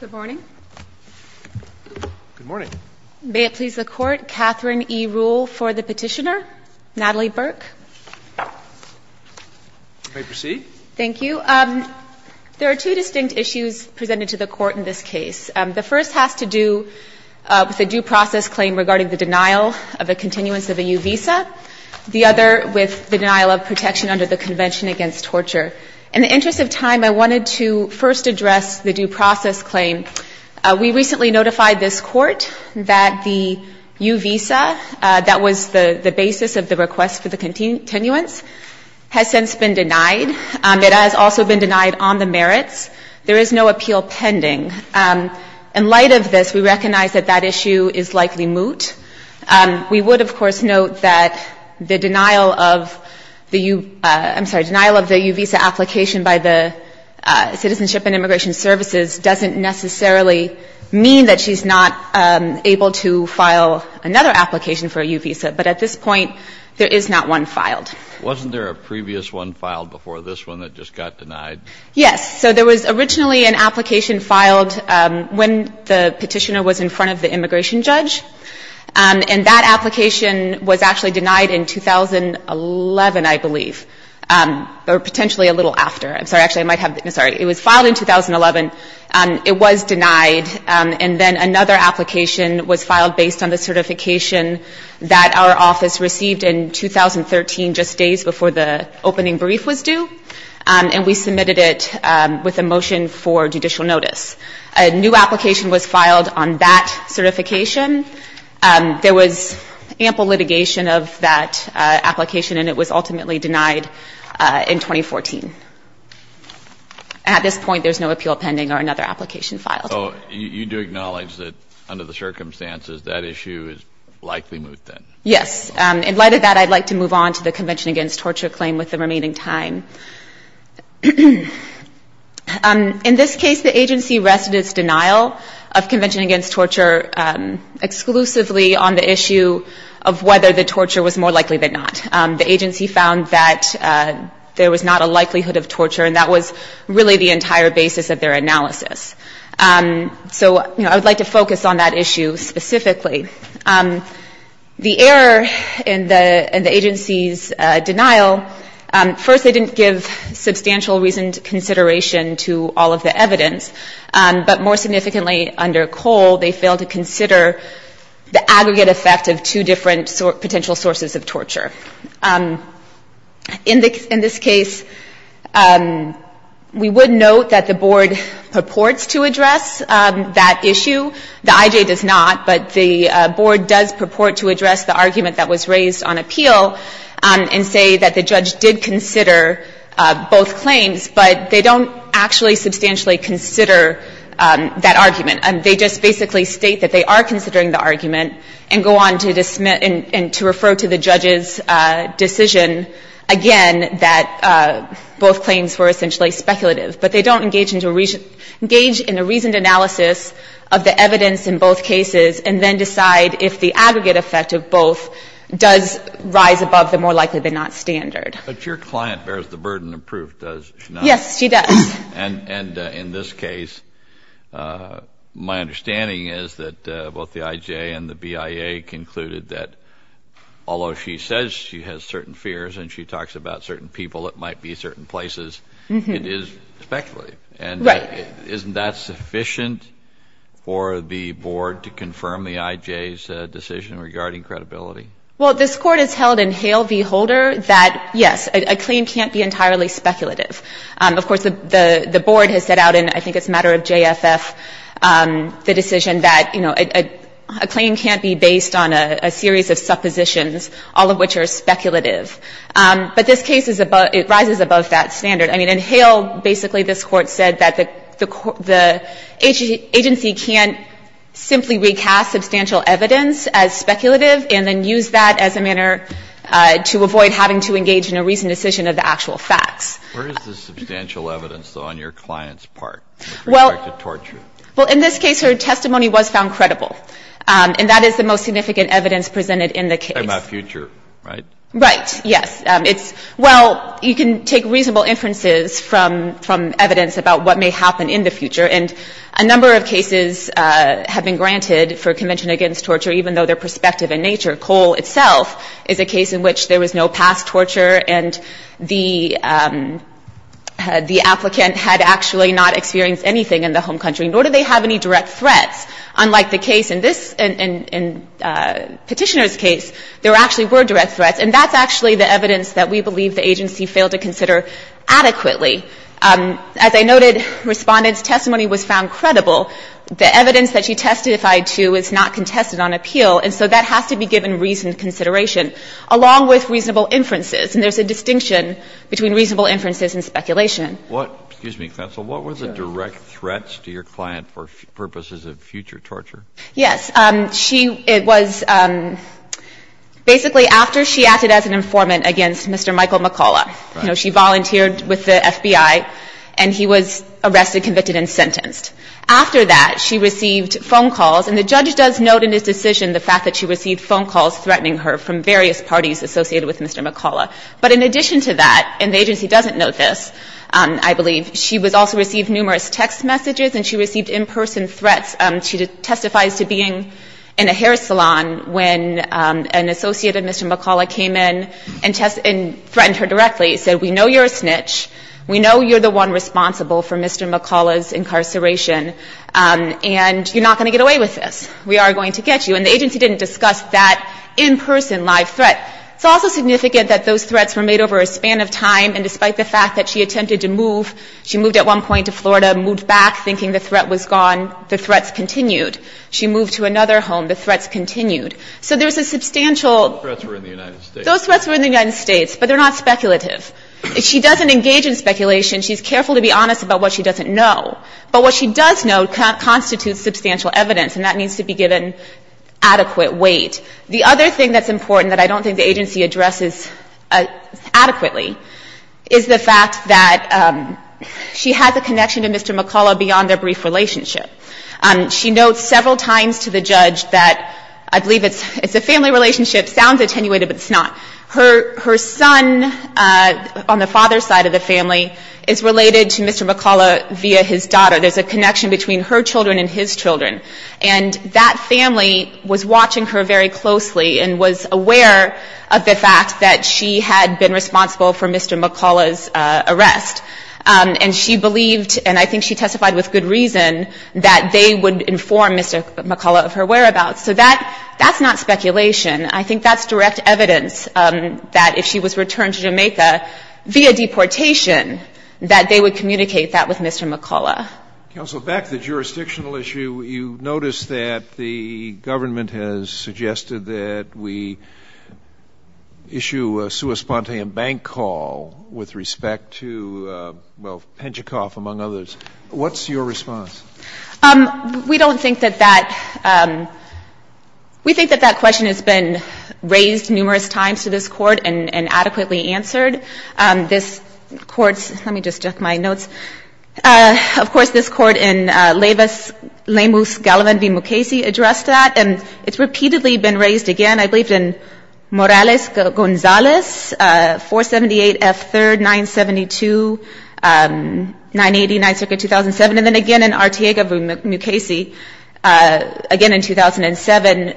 Good morning. Good morning. May it please the Court, Katherine E. Ruhle for the petitioner, Natalie Burke. You may proceed. Thank you. There are two distinct issues presented to the Court in this case. The first has to do with a due process claim regarding the denial of a continuance of a U visa. The other with the denial of protection under the Convention Against Torture. In the interest of time, I wanted to first address the due process claim. We recently notified this Court that the U visa that was the basis of the request for the continuance has since been denied. It has also been denied on the merits. There is no appeal pending. In light of this, we recognize that that issue is likely moot. We would, of course, note that the denial of the U visa application by the Citizenship and Immigration Services doesn't necessarily mean that she's not able to file another application for a U visa. But at this point, there is not one filed. Kennedy Wasn't there a previous one filed before this one that just got denied? Loretta E. Lynch Yes. So there was originally an application filed when the petitioner was in front of the immigration judge. And that application was actually denied in 2011, I believe, or potentially a little after. I'm sorry. Actually, I might have the, no, sorry. It was filed in 2011. It was denied. And then another application was filed based on the certification that our office received in 2013, just days before the opening brief was due. And we submitted it with a motion for judicial notice. A new application was submitted with that certification. There was ample litigation of that application, and it was ultimately denied in 2014. At this point, there's no appeal pending or another application filed. Kennedy So you do acknowledge that under the circumstances that issue is likely moot then? Loretta E. Lynch Yes. In light of that, I'd like to move on to the Convention Against Torture claim with the remaining time. In this case, the agency rested its denial of Convention Against Torture exclusively on the issue of whether the torture was more likely than not. The agency found that there was not a likelihood of torture, and that was really the entire basis of their analysis. So I would like to focus on that issue specifically. The error in the agency's denial, first, they didn't give substantial reason to consideration to all of the evidence. But more significantly, under Cole, they failed to consider the aggregate effect of two different potential sources of torture. In this case, we would note that the Board purports to address that issue. The IJ does not, but the Board does purport to address the argument that was raised on appeal and say that the judge did consider both claims, but they don't actually substantially consider that argument. They just basically state that they are considering the argument and go on to refer to the judge's decision, again, that both claims were essentially speculative. But they don't engage in a reasoned analysis of the evidence in both cases and then decide if the aggregate effect of both does rise above the more likely than not standard. But your client bears the burden of proof, does she not? Yes, she does. And in this case, my understanding is that both the IJ and the BIA concluded that although she says she has certain fears and she talks about certain people that might be certain places, it is speculative. Right. Isn't that sufficient for the Board to confirm the IJ's decision regarding credibility? Well, this Court has held in Hale v. Holder that, yes, a claim can't be entirely speculative. Of course, the Board has set out in, I think it's a matter of JFF, the decision that, you know, a claim can't be based on a series of suppositions, all of which are speculative. But this case is above — it rises above that standard. I mean, in Hale, basically this Court said that the agency can't simply recast substantial evidence as speculative and then use that as a manner to avoid having to engage in a reasoned decision of the actual facts. Where is the substantial evidence, though, on your client's part with respect to torture? Well, in this case, her testimony was found credible, and that is the most significant evidence presented in the case. It's not about future, right? Right, yes. It's, well, you can take reasonable inferences from evidence about what may happen in the future. And a number of cases have been granted for Convention Against Torture, even though they're prospective in nature. Cole itself is a case in which there was no past torture and the applicant had actually not experienced anything in the home country, nor did they have any direct threats, unlike the case in this — in Petitioner's case, there actually were direct threats. And that's actually the evidence that we believe the agency failed to consider adequately. As I noted, Respondent's testimony was found credible. The evidence that she testified to is not contested on appeal, and so that has to be given reasoned consideration, along with reasonable inferences. And there's a distinction between reasonable inferences and speculation. What — excuse me, Counsel. What were the direct threats to your client for purposes of future torture? Yes. She — it was basically after she acted as an informant against Mr. Michael McCullough. Right. You know, she volunteered with the FBI, and he was arrested, convicted, and sentenced. After that, she received phone calls. And the judge does note in his decision the fact that she received phone calls threatening her from various parties associated with Mr. McCullough. But in addition to that — and the agency doesn't note this, I believe — she was also — received numerous text messages, and she received in-person threats. She testifies to being in a hair salon when an associate of Mr. McCullough came in and threatened her directly. He said, we know you're a snitch. We know you're the one responsible for Mr. McCullough's incarceration. And you're not going to get away with this. We are going to get you. And the agency didn't discuss that in-person live threat. It's also significant that those threats were made over a span of time, and despite the fact that she attempted to move — she moved at one point to Florida, moved back thinking the threat was gone. The threats continued. She moved to another home. The threats continued. So there's a substantial — The threats were in the United States. Those threats were in the United States, but they're not speculative. She doesn't engage in speculation. She's careful to be honest about what she doesn't know. But what she does know constitutes substantial evidence, and that needs to be given adequate weight. The other thing that's important that I don't think the agency addresses adequately is the fact that she has a connection to Mr. McCullough beyond their brief relationship. She notes several times to the judge that — I believe it's a family relationship. Sounds attenuated, but it's not. Her son on the father's side of the family is related to Mr. McCullough via his daughter. There's a connection between her children and his children. And that family was watching her very closely and was aware of the fact that she was responsible for Mr. McCullough's arrest. And she believed — and I think she testified with good reason — that they would inform Mr. McCullough of her whereabouts. So that's not speculation. I think that's direct evidence that if she was returned to Jamaica via deportation, that they would communicate that with Mr. McCullough. Counsel, back to the jurisdictional issue, you noticed that the government has made a new sua spontean bank call with respect to, well, Penjikoff, among others. What's your response? We don't think that that — we think that that question has been raised numerous times to this Court and adequately answered. This Court's — let me just check my notes. Of course, this Court in Lemus Gallivan v. Mukasey addressed that, and it's repeatedly been raised again. I believe in Morales-Gonzalez, 478 F. 3rd, 972, 980, 9th Circuit, 2007. And then again in Arteaga v. Mukasey, again in 2007,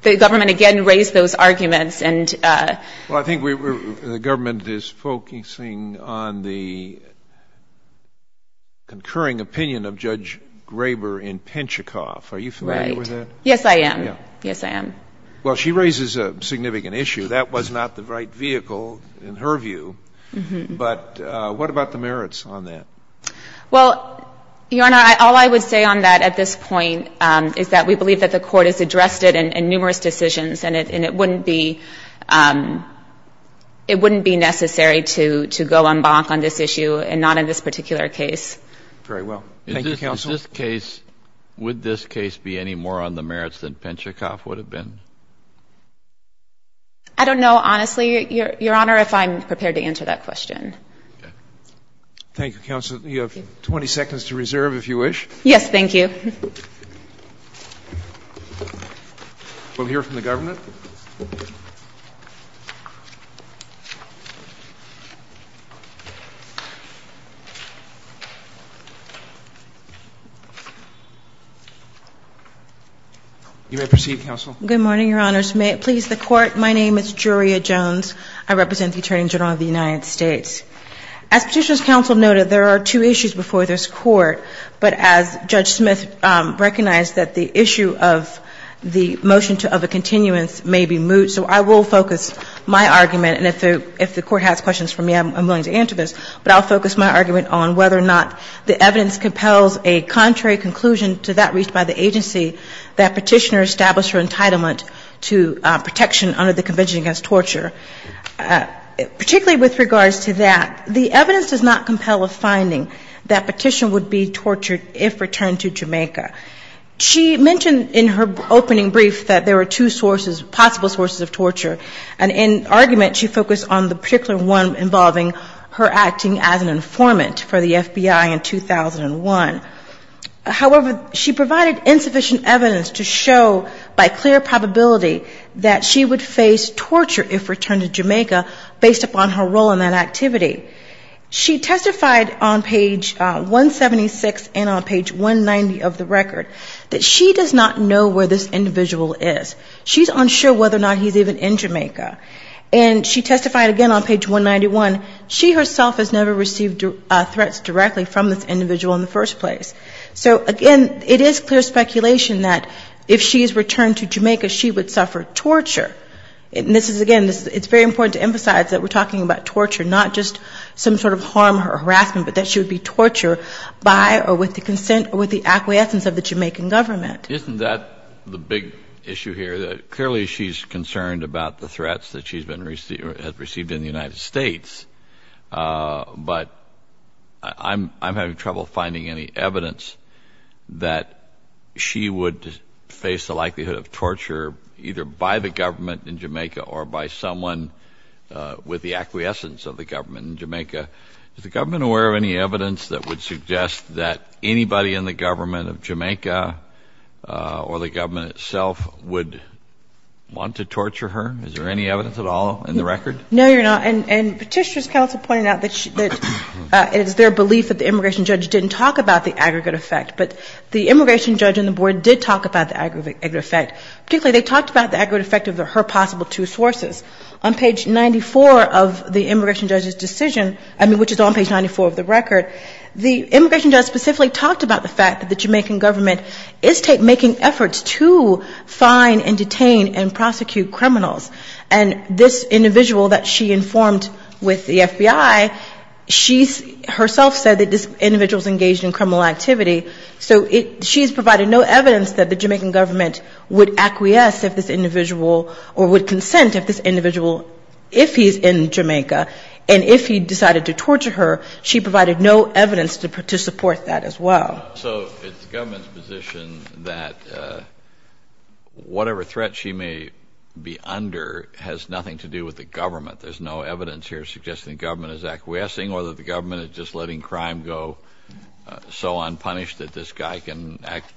the government again raised those arguments. And — Well, I think the government is focusing on the concurring opinion of Judge Graber in Penjikoff. Are you familiar with that? Right. Yes, I am. Yes, I am. Well, she raises a significant issue. That was not the right vehicle, in her view. But what about the merits on that? Well, Your Honor, all I would say on that at this point is that we believe that the Court has addressed it in numerous decisions, and it wouldn't be — it wouldn't be necessary to go en banc on this issue and not in this particular case. Very well. Thank you, counsel. Would this case — would this case be any more on the merits than Penjikoff would have been? I don't know, honestly, Your Honor, if I'm prepared to answer that question. Thank you, counsel. You have 20 seconds to reserve, if you wish. Yes, thank you. We'll hear from the government. You may proceed, counsel. Good morning, Your Honors. May it please the Court, my name is Juria Jones. I represent the Attorney General of the United States. As Petitioner's counsel noted, there are two issues before this Court. But as Judge Smith recognized, that the issue of the motion of a continuance may be moved. So I will focus my argument, and if the Court has questions for me, I'm willing to answer this, but I'll focus my argument on whether or not the evidence compels a contrary conclusion to that reached by the agency that Petitioner established her entitlement to protection under the Convention Against Torture. Particularly with regards to that, the evidence does not compel a finding that Petitioner would be tortured if returned to Jamaica. She mentioned in her opening brief that there were two sources — possible sources of torture. And in argument, she focused on the particular one involving her acting as an attorney in 2001. However, she provided insufficient evidence to show, by clear probability, that she would face torture if returned to Jamaica, based upon her role in that activity. She testified on page 176 and on page 190 of the record, that she does not know where this individual is. She's unsure whether or not he's even in Jamaica. And she testified again on page 191. She herself has never received threats directly from this individual in the first place. So, again, it is clear speculation that if she is returned to Jamaica, she would suffer torture. And this is, again, it's very important to emphasize that we're talking about torture, not just some sort of harm or harassment, but that she would be tortured by or with the consent or with the acquiescence of the Jamaican government. Isn't that the big issue here, that clearly she's concerned about the threats that she has received in the United States. But I'm having trouble finding any evidence that she would face the likelihood of torture either by the government in Jamaica or by someone with the acquiescence of the government in Jamaica. Is the government aware of any evidence that would suggest that anybody in the government of Jamaica or the government itself would want to torture her? Is there any evidence at all in the record? No, Your Honor. And Petitioner's counsel pointed out that it is their belief that the immigration judge didn't talk about the aggregate effect. But the immigration judge and the board did talk about the aggregate effect. Particularly, they talked about the aggregate effect of her possible two sources. On page 94 of the immigration judge's decision, I mean, which is on page 94 of the record, the immigration judge specifically talked about the fact that the Jamaican government is making efforts to fine and detain and prosecute criminals. And this individual that she informed with the FBI, she herself said that this individual's engaged in criminal activity. So she's provided no evidence that the Jamaican government would acquiesce if this individual or would consent if this individual, if he's in Jamaica, and if he decided to torture her, she provided no evidence to support that as well. So it's the government's position that whatever threat she may be under has nothing to do with the government. There's no evidence here suggesting the government is acquiescing or that the government is just letting crime go so unpunished that this guy can act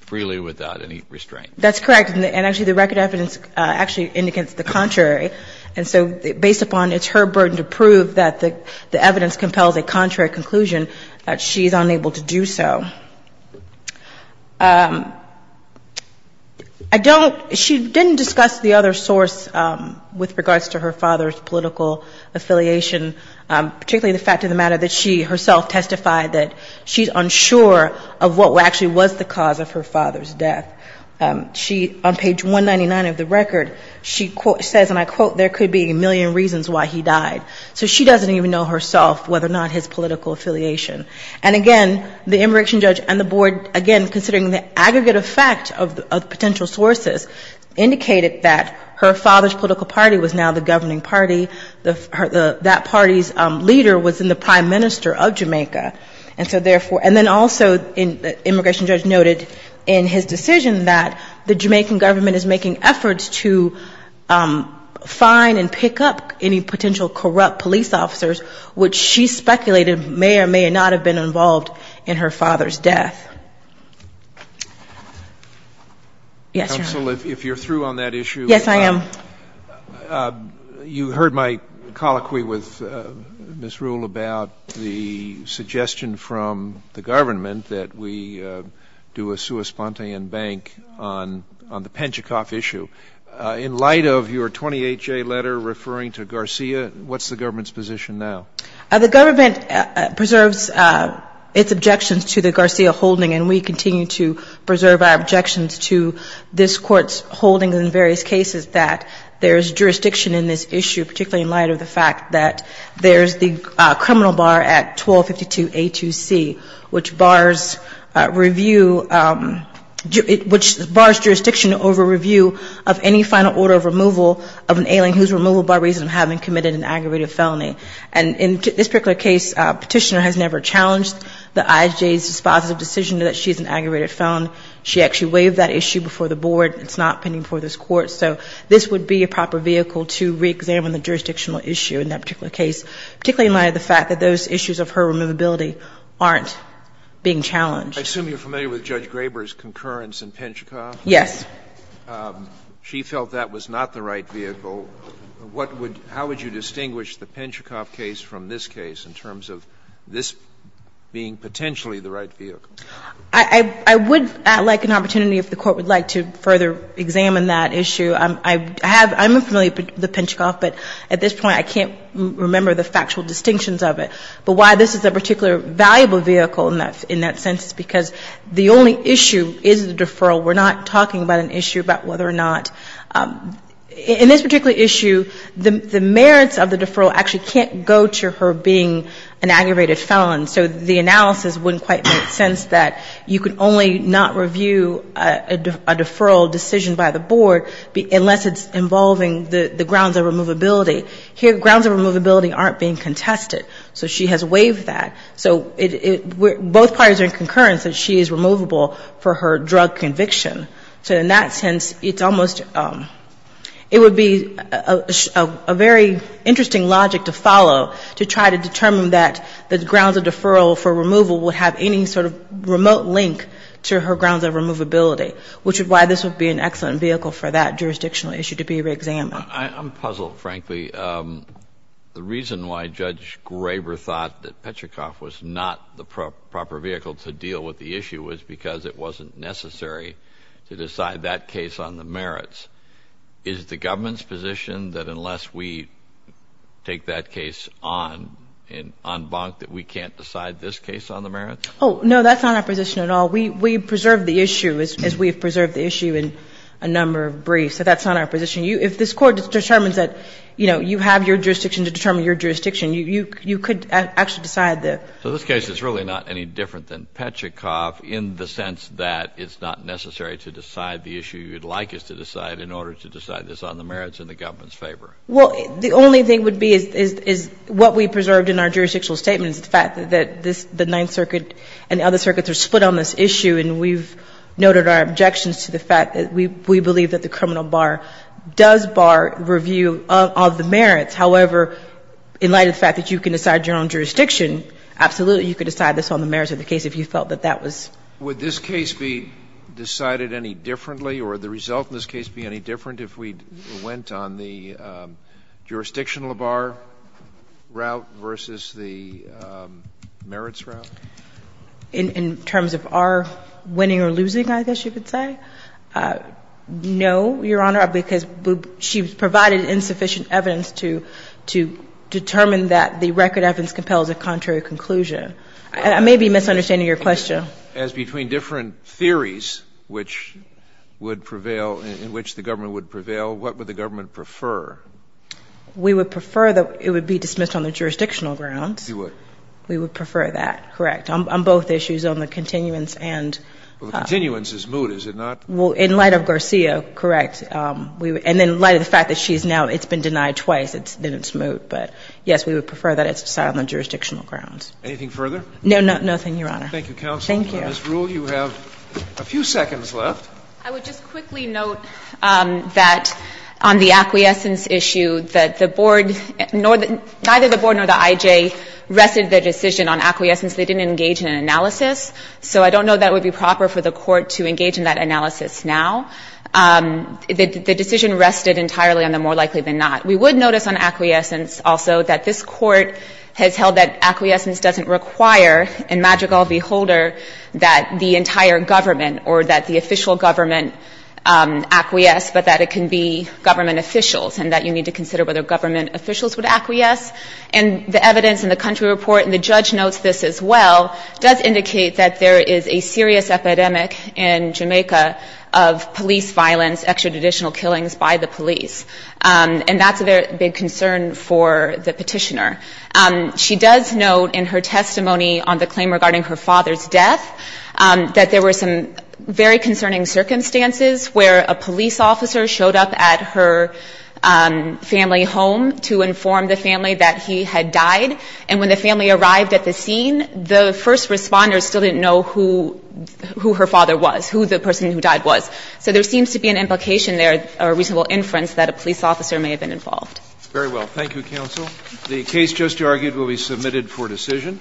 freely without any restraint. That's correct. And actually, the record evidence actually indicates the contrary. And so based upon it's her burden to prove that the evidence compels a contrary conclusion, she's unable to do so. I don't, she didn't discuss the other source with regards to her father's political affiliation, particularly the fact of the matter that she herself testified that she's unsure of what actually was the cause of her father's death. She, on page 199 of the record, she says, and I quote, there could be a million reasons why he died. So she doesn't even know herself whether or not his political affiliation. And again, the immigration judge and the board, again, considering the aggregate effect of potential sources, indicated that her father's political party was now the governing party. That party's leader was in the prime minister of Jamaica. And so therefore, and then also the immigration judge noted in his decision that the Jamaican government is making efforts to find and pick up any potential corrupt police officers, which she speculated may or may not have been involved in her father's death. Yes, Your Honor. Counsel, if you're through on that issue. Yes, I am. You heard my colloquy with Ms. Ruhle about the suggestion from the government that we do a sua spontean bank on the Penjikoff issue. In light of your 28-J letter referring to Garcia, what's the government's position now? The government preserves its objections to the Garcia holding, and we continue to preserve our objections to this court's holding in various cases that there's jurisdiction in this issue, particularly in light of the fact that there's the criminal bar at 1252 A2C, which bars review, which bars jurisdiction over review of any final order of removal of an alien who's removed by reason of having committed an aggravated felony. And in this particular case, Petitioner has never challenged the IJ's dispositive decision that she's an aggravated felon. She actually waived that issue before the board. It's not pending before this court. So this would be a proper vehicle to reexamine the jurisdictional issue in that particular case, particularly in light of the fact that those issues of her removability aren't being challenged. I assume you're familiar with Judge Graber's concurrence in Penjikoff? Yes. She felt that was not the right vehicle. What would – how would you distinguish the Penjikoff case from this case in terms of this being potentially the right vehicle? I would like an opportunity, if the Court would like, to further examine that issue. I have – I'm familiar with the Penjikoff, but at this point I can't remember the factual distinctions of it. But why this is a particular valuable vehicle in that sense is because the only issue is the deferral. We're not talking about an issue about whether or not – in this particular issue, the merits of the deferral actually can't go to her being an aggravated felon. So the analysis wouldn't quite make sense that you could only not review a deferral decision by the board unless it's involving the grounds of removability. Here, grounds of removability aren't being contested. So she has waived that. So both parties are in concurrence that she is removable for her drug conviction. So in that sense, it's almost – it would be a very interesting logic to follow to try to determine that the grounds of deferral for removal would have any sort of remote link to her grounds of removability, which is why this would be an excellent vehicle for that jurisdictional issue to be reexamined. I'm puzzled, frankly. The reason why Judge Graber thought that Petrichoff was not the proper vehicle to deal with the issue was because it wasn't necessary to decide that case on the merits. Is the government's position that unless we take that case on, on bunk, that we can't decide this case on the merits? Oh, no. That's not our position at all. We preserve the issue, as we have preserved the issue in a number of briefs. So that's not our position. If this Court determines that, you know, you have your jurisdiction to determine your jurisdiction, you could actually decide that. So this case is really not any different than Petrichoff in the sense that it's not necessary to decide the issue you'd like us to decide in order to decide this on the merits in the government's favor? Well, the only thing would be is what we preserved in our jurisdictional statement is the fact that this – the Ninth Circuit and the other circuits are split on this issue, and we've noted our objections to the fact that we believe that the criminal bar does bar review of the merits. However, in light of the fact that you can decide your own jurisdiction, absolutely you could decide this on the merits of the case if you felt that that was – Would this case be decided any differently, or the result in this case be any different if we went on the jurisdictional bar route versus the merits route? In terms of our winning or losing, I guess you could say? No, Your Honor, because she provided insufficient evidence to determine that the record evidence compels a contrary conclusion. I may be misunderstanding your question. As between different theories which would prevail – in which the government would prevail, what would the government prefer? We would prefer that it would be dismissed on the jurisdictional ground. We would. We would prefer that, correct. On both issues, on the continuance and – Well, the continuance is moot, is it not? Well, in light of Garcia, correct. And in light of the fact that she's now – it's been denied twice, then it's moot. But, yes, we would prefer that it's decided on the jurisdictional grounds. Anything further? No, nothing, Your Honor. Thank you, counsel. Thank you. On this rule, you have a few seconds left. I would just quickly note that on the acquiescence issue, that the board – neither the board nor the IJ rested their decision on acquiescence. They didn't engage in an analysis. So I don't know that it would be proper for the Court to engage in that analysis now. The decision rested entirely on the more likely than not. We would notice on acquiescence also that this Court has held that acquiescence doesn't require, in magic all beholder, that the entire government or that the official government acquiesce, but that it can be government officials, and that you need to consider whether government officials would acquiesce. And the evidence in the country report – and the judge notes this as well – does indicate that there is a serious epidemic in Jamaica of police violence, extrajudicial killings by the police. And that's a big concern for the petitioner. She does note in her testimony on the claim regarding her father's death that there were some very concerning circumstances where a police officer showed up at her family home to inform the family that he had died. And when the family arrived at the scene, the first responders still didn't know who her father was, who the person who died was. So there seems to be an implication there, a reasonable inference, that a police officer may have been involved. Very well. Thank you, counsel. The case just argued will be submitted for decision.